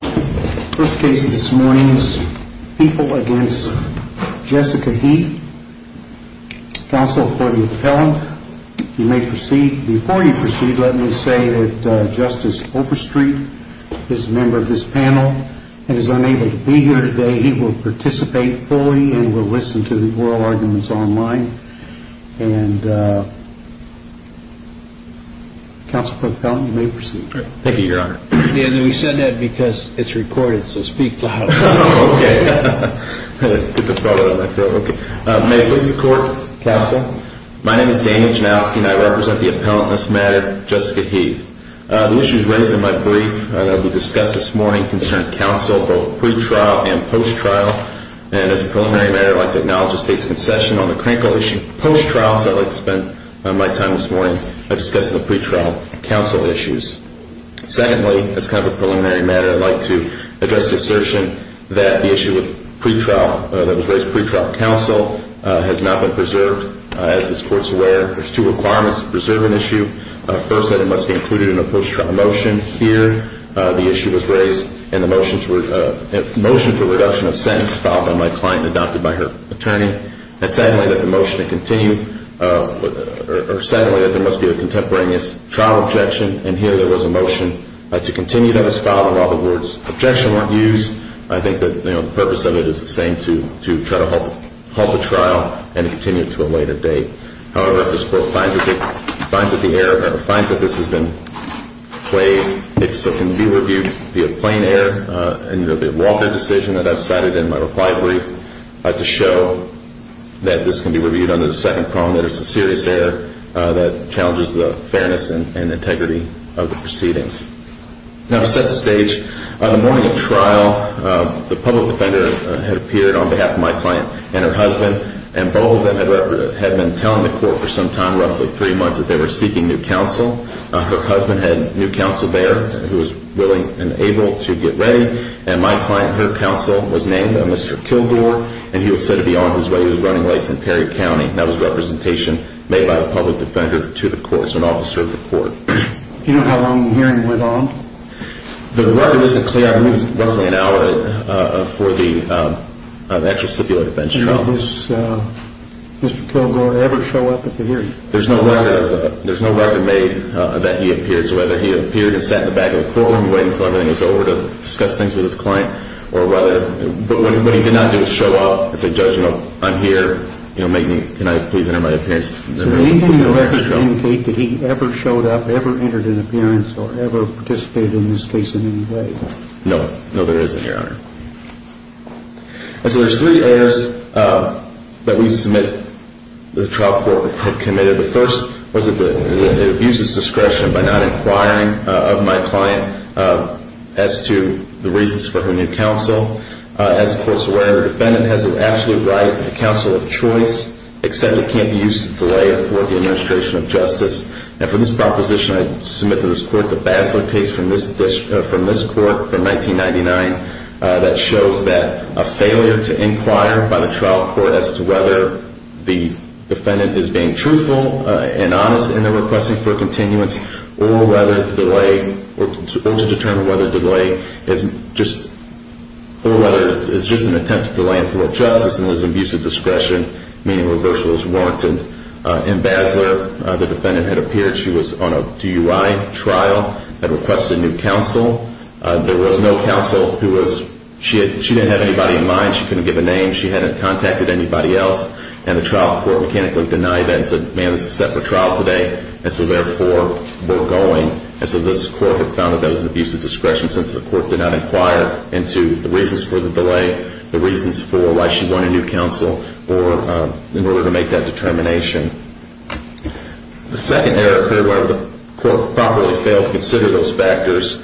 First case this morning is People v. Jessica Heath. Counsel for the appellant you may proceed. Before you proceed let me say that Justice Overstreet is a member of this panel and is unable to be here today. He will participate fully and will listen to the oral arguments online. Counsel for the appellant you may proceed. Thank you your honor. We said that because it's recorded so speak loud. May it please the court, counsel. My name is Daniel Janowski and I represent the appellant, Ms. Matter, Jessica Heath. The issues raised in my brief will be discussed this morning concerning counsel both pre-trial and post-trial. And as a preliminary matter I'd like to acknowledge the state's concession on the crankle issue post-trial. So I'd like to spend my time this morning discussing the pre-trial counsel issues. Secondly, as kind of a preliminary matter I'd like to address the assertion that the issue with pre-trial, that was raised pre-trial counsel has not been preserved. As this court's aware there's two requirements to preserve an issue. First that it must be included in a post-trial motion. Here the issue was raised and the motions were a reduction of sentence filed by my client and adopted by her attorney. And secondly that the motion to continue, or secondly that there must be a contemporaneous trial objection. And here there was a motion to continue that was filed while the words objection weren't used. I think that the purpose of it is the same, to try to halt the trial and continue it to a later date. However, if this court finds that the error, or finds that this has been played, it can be reviewed via plain error in the Walter decision that I've cited in my reply brief to show that this can be reviewed under the second prong that it's a serious error that challenges the fairness and integrity of the proceedings. Now to set the stage, on the morning of trial the public defender had appeared on behalf of my client and her husband. And both of them had been telling the court for some time, roughly three months, that they were seeking new counsel. Her husband had new counsel there who was willing and able to get ready. And my client, her counsel, was named Mr. Kilgore. And he was said to be on his way, he was running late from Perry County. That was representation made by the public defender to the court, so an officer of the court. Do you know how long the hearing went on? The record isn't clear. I believe it was roughly an hour for the actual stipulated bench trial. Did Mr. Kilgore ever show up at the hearing? There's no record made that he appeared. So whether he appeared and sat in the back of the courtroom waiting until everything was over to discuss things with his client, but what he did not do was show up and say, Judge, I'm here, can I please enter my appearance? So the reason the record doesn't indicate that he ever showed up, ever entered an appearance, or ever participated in this case in any way? No. No, there isn't, Your Honor. And so there's three errors that we submit that the trial court had committed. The first was that it abuses discretion by not inquiring of my client as to the reasons for her new counsel. As the court's aware, the defendant has an absolute right to counsel of choice, except it can't be used to delay or thwart the administration of justice. And for this proposition, I submit to this court the Basler case from this court from 1999 that shows that a failure to inquire by the trial court as to whether the defendant is being truthful and honest in their requesting for continuance, or to determine whether delay is just an attempt to delay and thwart justice, and there's abusive discretion, meaning reversal is warranted. In Basler, the defendant had appeared. She was on a DUI trial, had requested new counsel. There was no counsel who was – she didn't have anybody in mind. She couldn't give a name. She hadn't contacted anybody else. And the trial court mechanically denied that and said, man, this is a separate trial today. And so therefore, we're going. And so this court had found that that was an abuse of discretion since the court did not inquire into the reasons for the delay, the reasons for why she wanted new counsel, or in order to make that determination. The second error here where the court probably failed to consider those factors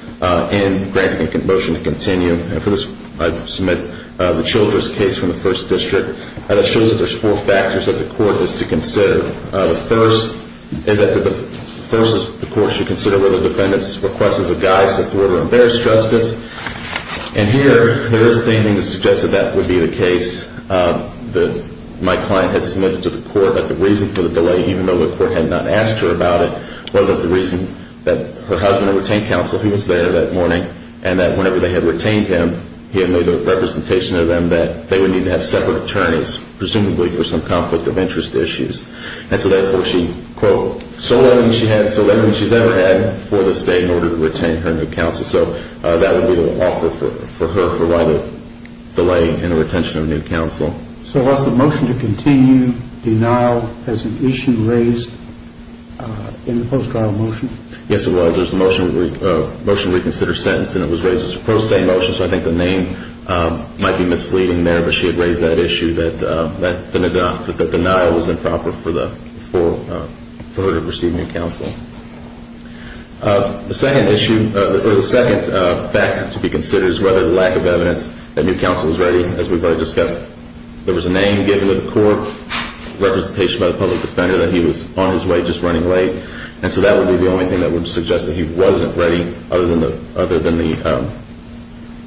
in granting a motion to continue, and for this I submit the Childress case from the First District, and it shows that there's four factors that the court is to consider. The first is that the court should consider whether the defendant's request is a guise to thwart or embarrass justice. And here, there is a thing to suggest that that would be the case that my client had submitted to the court, but the reason for the delay, even though the court had not asked her about it, wasn't the reason that her husband had retained counsel. He was there that morning, and that whenever they had retained him, he had made a representation to them that they would need to have separate attorneys, presumably for some conflict of interest issues. And so therefore, she, quote, so little she's ever had for this day in order to retain her new counsel. So that would be the offer for her for why the delay in the retention of new counsel. So was the motion to continue denial as an issue raised in the post-trial motion? Yes, it was. It was a motion to reconsider sentence, and it was raised as a pro se motion, so I think the name might be misleading there, but she had raised that issue that the denial was improper for her to receive new counsel. The second issue, or the second factor to be considered is whether the lack of evidence that new counsel was ready, as we've already discussed, there was a name given to the court, representation by the public defender that he was on his way, just running late. And so that would be the only thing that would suggest that he wasn't ready, other than the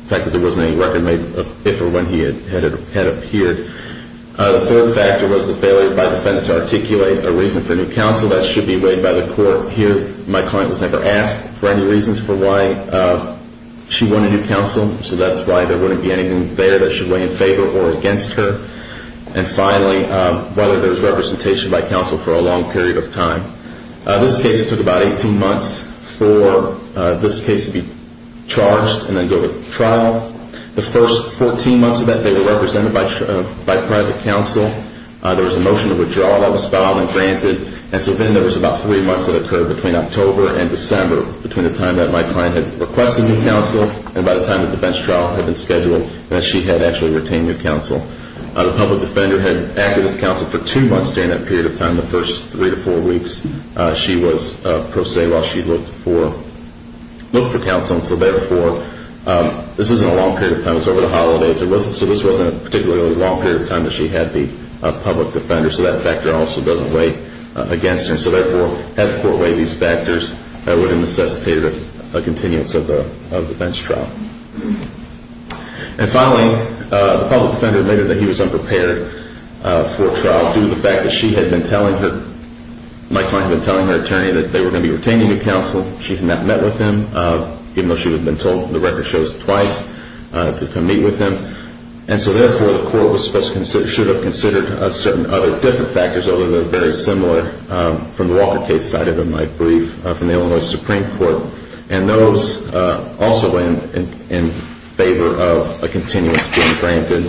fact that there wasn't any record made of if or when he had appeared. The third factor was the failure by the defendant to articulate a reason for new counsel. That should be weighed by the court here. My client was never asked for any reasons for why she wanted new counsel, so that's why there wouldn't be anything there that should weigh in favor or against her. And finally, whether there was representation by counsel for a long period of time. This case, it took about 18 months for this case to be charged and then go to trial. The first 14 months of that, they were represented by private counsel. There was a motion to withdraw that was filed and granted, and so then there was about three months that occurred between October and December, between the time that my client had requested new counsel and by the time that the bench trial had been scheduled and that she had actually retained new counsel. The public defender had acted as counsel for two months during that period of time. The first three to four weeks, she was pro se while she looked for counsel. And so therefore, this isn't a long period of time. It was over the holidays. So this wasn't a particularly long period of time that she had the public defender, so that factor also doesn't weigh against her. And so therefore, had the court weighed these factors, it would have necessitated a continuance of the bench trial. And finally, the public defender admitted that he was unprepared for trial due to the fact that she had been telling her, my client had been telling her attorney, that they were going to be retaining a counsel. She had not met with him, even though she would have been told the record shows twice to come meet with him. And so therefore, the court should have considered certain other different factors, although they're very similar from the Walker case cited in my brief from the Illinois Supreme Court. And those also weigh in favor of a continuance being granted.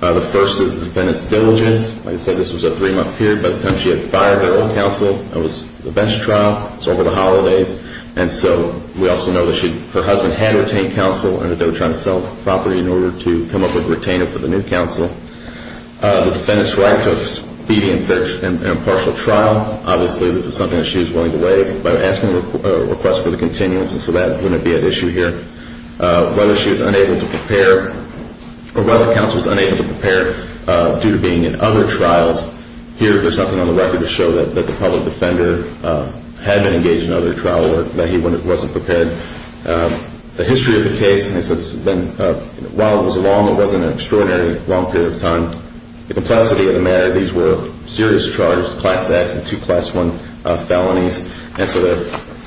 The first is the defendant's diligence. Like I said, this was a three-month period. By the time she had fired her old counsel, it was the bench trial. It was over the holidays. And so we also know that her husband had retained counsel and that they were trying to sell the property in order to come up with a retainer for the new counsel. The defendant's right to a speedy and impartial trial. Obviously, this is something that she was willing to waive by asking a request for the continuance, and so that wouldn't be an issue here. Whether she was unable to prepare or whether counsel was unable to prepare due to being in other trials, here there's nothing on the record to show that the public defender had been engaged in other trial work, that he wasn't prepared. The history of the case, while it was long, it wasn't an extraordinarily long period of time. The complexity of the matter, these were serious charges, class X and two class I felonies.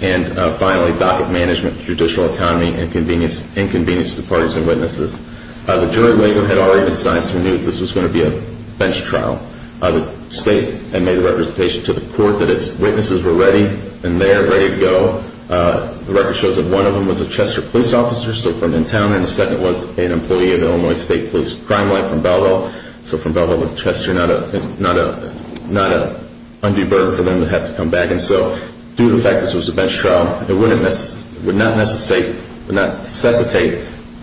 And finally, docket management, judicial economy, inconvenience to parties and witnesses. The jury labor had already been sized. We knew that this was going to be a bench trial. The state had made a representation to the court that its witnesses were ready and there, ready to go. The record shows that one of them was a Chester police officer, so from in town, and the second was an employee of the Illinois State Police Crime Line from Belleville. So from Belleville to Chester, not an undue burden for them to have to come back. And so due to the fact that this was a bench trial, it would not necessitate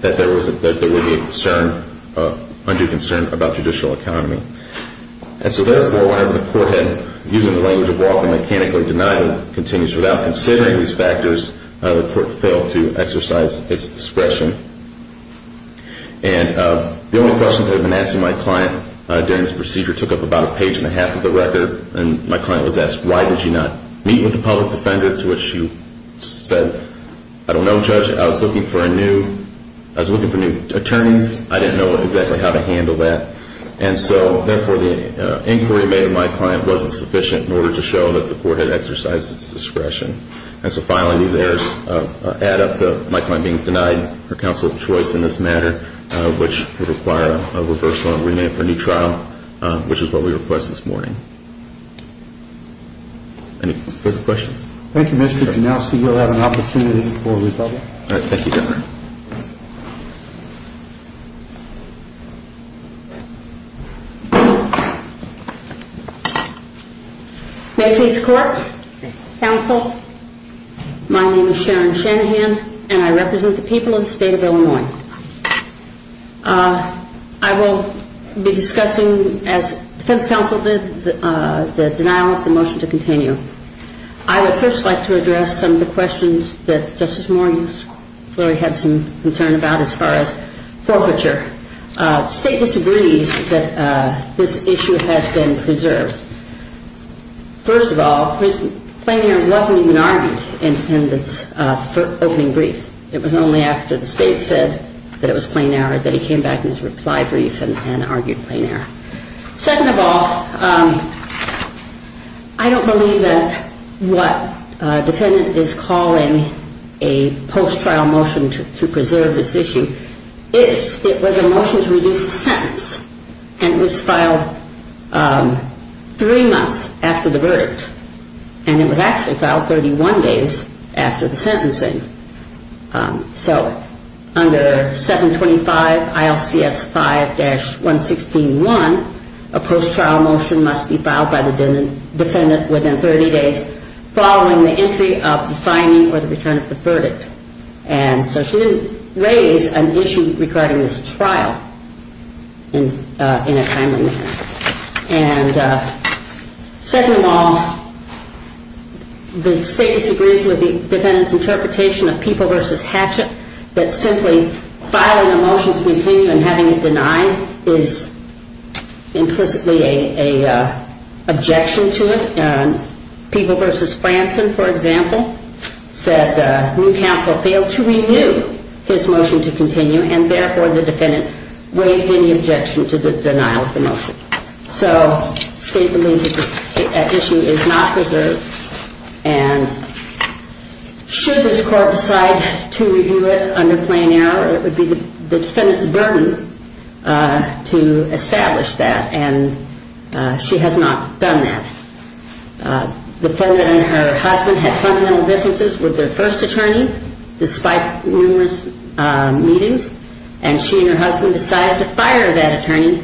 that there would be a concern, an undue concern about judicial economy. And so therefore, whenever the court had, using the language of Walker, without considering these factors, the court failed to exercise its discretion. And the only questions I had been asking my client during this procedure took up about a page and a half of the record. And my client was asked, why did you not meet with the public defender, to which she said, I don't know, Judge. I was looking for a new, I was looking for new attorneys. I didn't know exactly how to handle that. And so therefore, the inquiry made of my client wasn't sufficient in order to show that the court had exercised its discretion. And so finally, these errors add up to my client being denied her counsel of choice in this matter, which would require a reversal and remand for a new trial, which is what we request this morning. Any further questions? Thank you, Mr. Janowski. You'll have an opportunity for rebuttal. Thank you, Governor. May face court. Counsel. My name is Sharon Shanahan, and I represent the people of the state of Illinois. I will be discussing, as defense counsel did, the denial of the motion to continue. I would first like to address some of the questions that Justice Morgan's lawyer had some concern about as far as forfeiture. The state disagrees that this issue has been preserved. First of all, plain error wasn't even argued in the defendant's opening brief. It was only after the state said that it was plain error that he came back in his reply brief and argued plain error. Second of all, I don't believe that what a defendant is calling a post-trial motion to preserve this issue is it was a motion to reduce the sentence, and it was filed three months after the verdict, and it was actually filed 31 days after the sentencing. So under 725 ILCS 5-116-1, a post-trial motion must be filed by the defendant within 30 days following the entry of the finding or the return of the verdict. And so she didn't raise an issue regarding this trial in a timely manner. And second of all, the state disagrees with the defendant's interpretation of People v. Hatchett that simply filing a motion to continue and having it denied is implicitly an objection to it. People v. Franson, for example, said New Counsel failed to renew his motion to continue and therefore the defendant waived any objection to the denial of the motion. So the state believes that this issue is not preserved, and should this court decide to review it under plain error, it would be the defendant's burden to establish that, and she has not done that. The defendant and her husband had fundamental differences with their first attorney despite numerous meetings, and she and her husband decided to fire that attorney,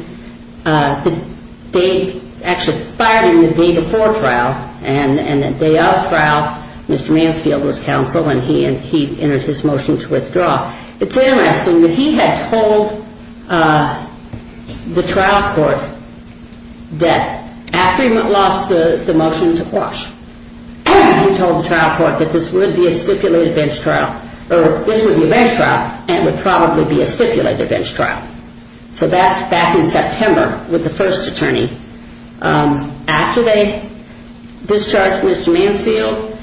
actually firing the day before trial, and the day of trial Mr. Mansfield was counsel and he entered his motion to withdraw. It's interesting that he had told the trial court that after he lost the motion to quash, he told the trial court that this would be a stipulated bench trial, or this would be a bench trial and it would probably be a stipulated bench trial. So that's back in September with the first attorney. After they discharged Mr. Mansfield,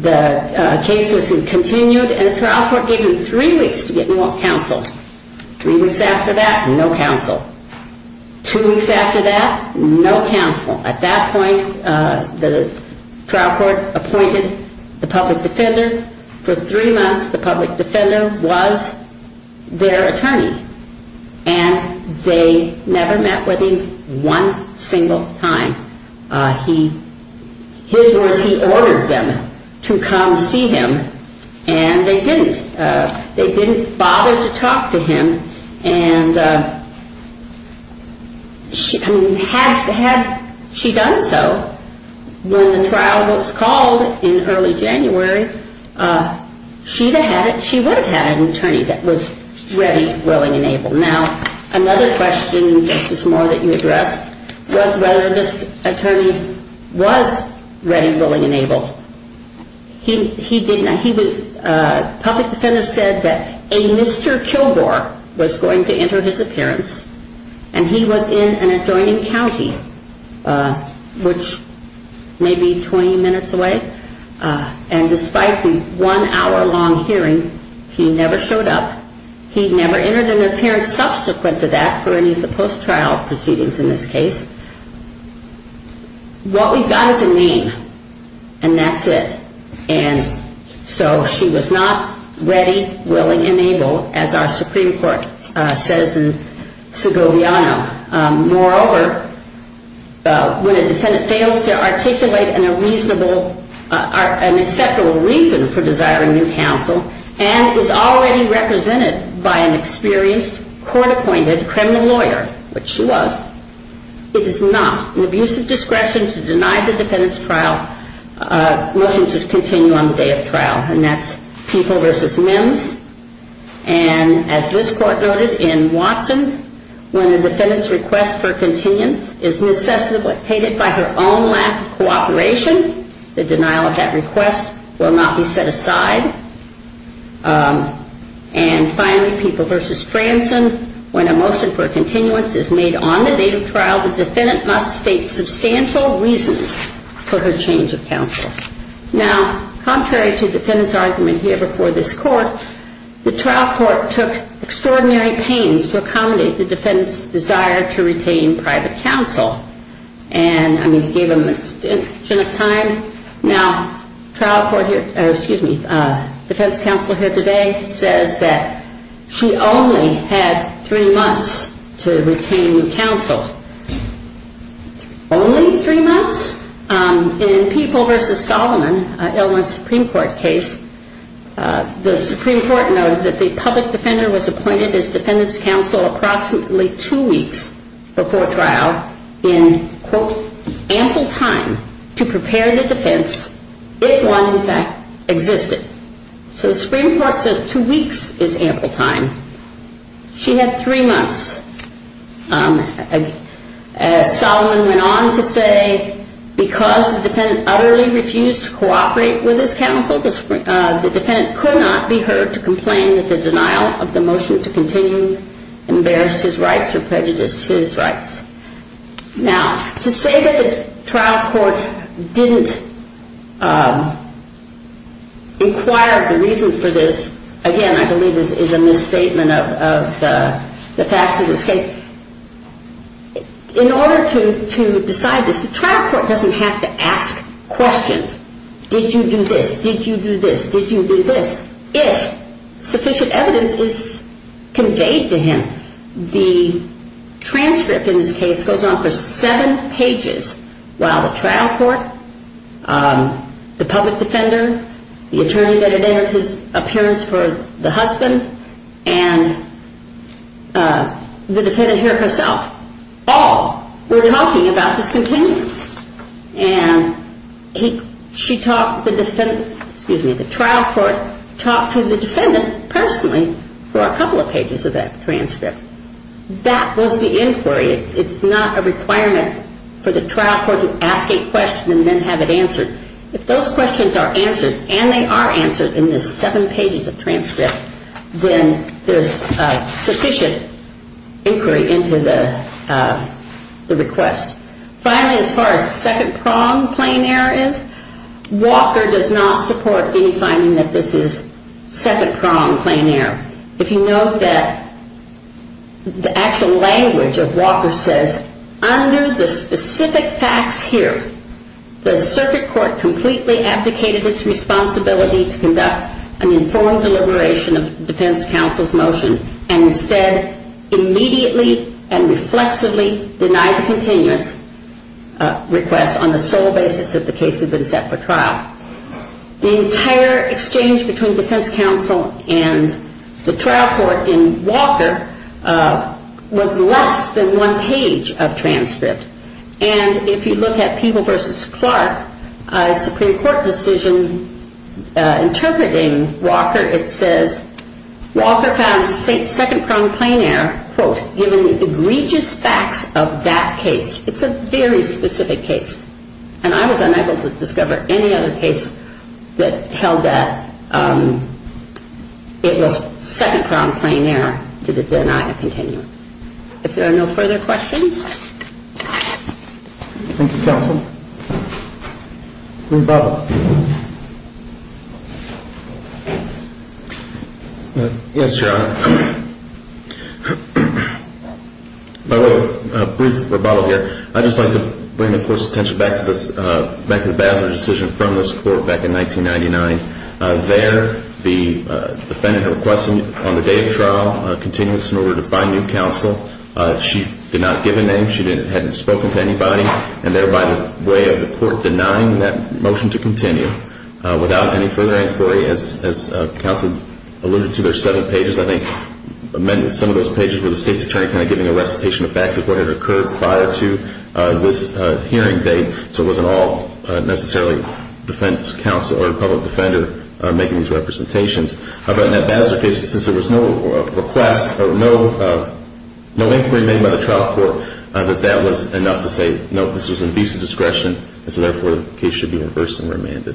the case was continued and the trial court gave him three weeks to get new counsel. Three weeks after that, no counsel. Two weeks after that, no counsel. At that point, the trial court appointed the public defender. For three months, the public defender was their attorney, and they never met with him one single time. His words, he ordered them to come see him, and they didn't. They didn't bother to talk to him, and had she done so, when the trial was called in early January, she would have had an attorney that was ready, willing, and able. Now, another question, Justice Moore, that you addressed was whether this attorney was ready, willing, and able. Public defender said that a Mr. Kilgore was going to enter his appearance, and he was in an adjoining county, which may be 20 minutes away, and despite the one-hour-long hearing, he never showed up. He never entered an appearance subsequent to that for any of the post-trial proceedings in this case. What we've got is a name, and that's it. And so she was not ready, willing, and able, as our Supreme Court says in Segoviano. Moreover, when a defendant fails to articulate an acceptable reason for desiring new counsel, and is already represented by an experienced, court-appointed criminal lawyer, which she was, it is not an abuse of discretion to deny the defendant's motion to continue on the day of trial. And as this Court noted in Watson, when a defendant's request for continuance is necessitated by her own lack of cooperation, the denial of that request will not be set aside. And finally, People v. Franson, when a motion for continuance is made on the date of trial, the defendant must state substantial reasons for her change of counsel. Now, contrary to the defendant's argument here before this Court, the trial court took extraordinary pains to accommodate the defendant's desire to retain private counsel. And, I mean, it gave them an extension of time. Now, the defense counsel here today says that she only had three months to retain counsel. Only three months? In People v. Solomon, an Illinois Supreme Court case, the Supreme Court noted that the public defender was appointed as defendant's counsel approximately two weeks before trial in, quote, ample time to prepare the defense if one, in fact, existed. So the Supreme Court says two weeks is ample time. She had three months. As Solomon went on to say, because the defendant utterly refused to cooperate with his counsel, the defendant could not be heard to complain that the denial of the motion to continue embarrassed his rights or prejudiced his rights. Now, to say that the trial court didn't inquire the reasons for this, again, I believe is a misstatement of the facts of this case. In order to decide this, the trial court doesn't have to ask questions. Did you do this? Did you do this? Did you do this? If sufficient evidence is conveyed to him, the transcript in this case goes on for seven pages, while the trial court, the public defender, the attorney that had entered his appearance for the husband, and the defendant here herself all were talking about this continuance. And she talked to the defendant, excuse me, the trial court talked to the defendant personally for a couple of pages of that transcript. That was the inquiry. It's not a requirement for the trial court to ask a question and then have it answered. If those questions are answered, and they are answered in this seven pages of transcript, then there's sufficient inquiry into the request. Finally, as far as second-prong plain error is, Walker does not support any finding that this is second-prong plain error. If you note that the actual language of Walker says, under the specific facts here, the circuit court completely abdicated its responsibility to conduct an informed deliberation of defense counsel's motion, and instead immediately and reflexively denied the continuance request on the sole basis that the case had been set for trial. The entire exchange between defense counsel and the trial court in Walker was less than one page of transcript. And if you look at Peeble v. Clark, a Supreme Court decision interpreting Walker, it says Walker found second-prong plain error, quote, given the egregious facts of that case. It's a very specific case. And I was unable to discover any other case that held that it was second-prong plain error to deny a continuance. If there are no further questions. Thank you, counsel. Rebuttal. Yes, Your Honor. Brief rebuttal here. I'd just like to bring, of course, attention back to the Basler decision from this court back in 1999. There, the defendant requested on the day of trial a continuance in order to find new counsel. She did not give a name. She hadn't spoken to anybody. And thereby, the way of the court denying that motion to continue without any further inquiry, as counsel alluded to, there are seven pages. I think some of those pages were the state's attorney kind of giving a recitation of facts of what had occurred prior to this hearing date, so it wasn't all necessarily defense counsel or public defender making these representations. How about in that Basler case, since there was no request or no inquiry made by the trial court, that that was enough to say, nope, this was an abuse of discretion, and so, therefore, the case should be reversed and remanded.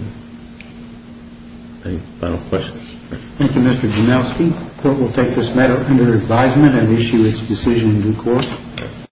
Any final questions? Thank you, Mr. Janowski. The court will take this matter under advisement and issue its decision in due course.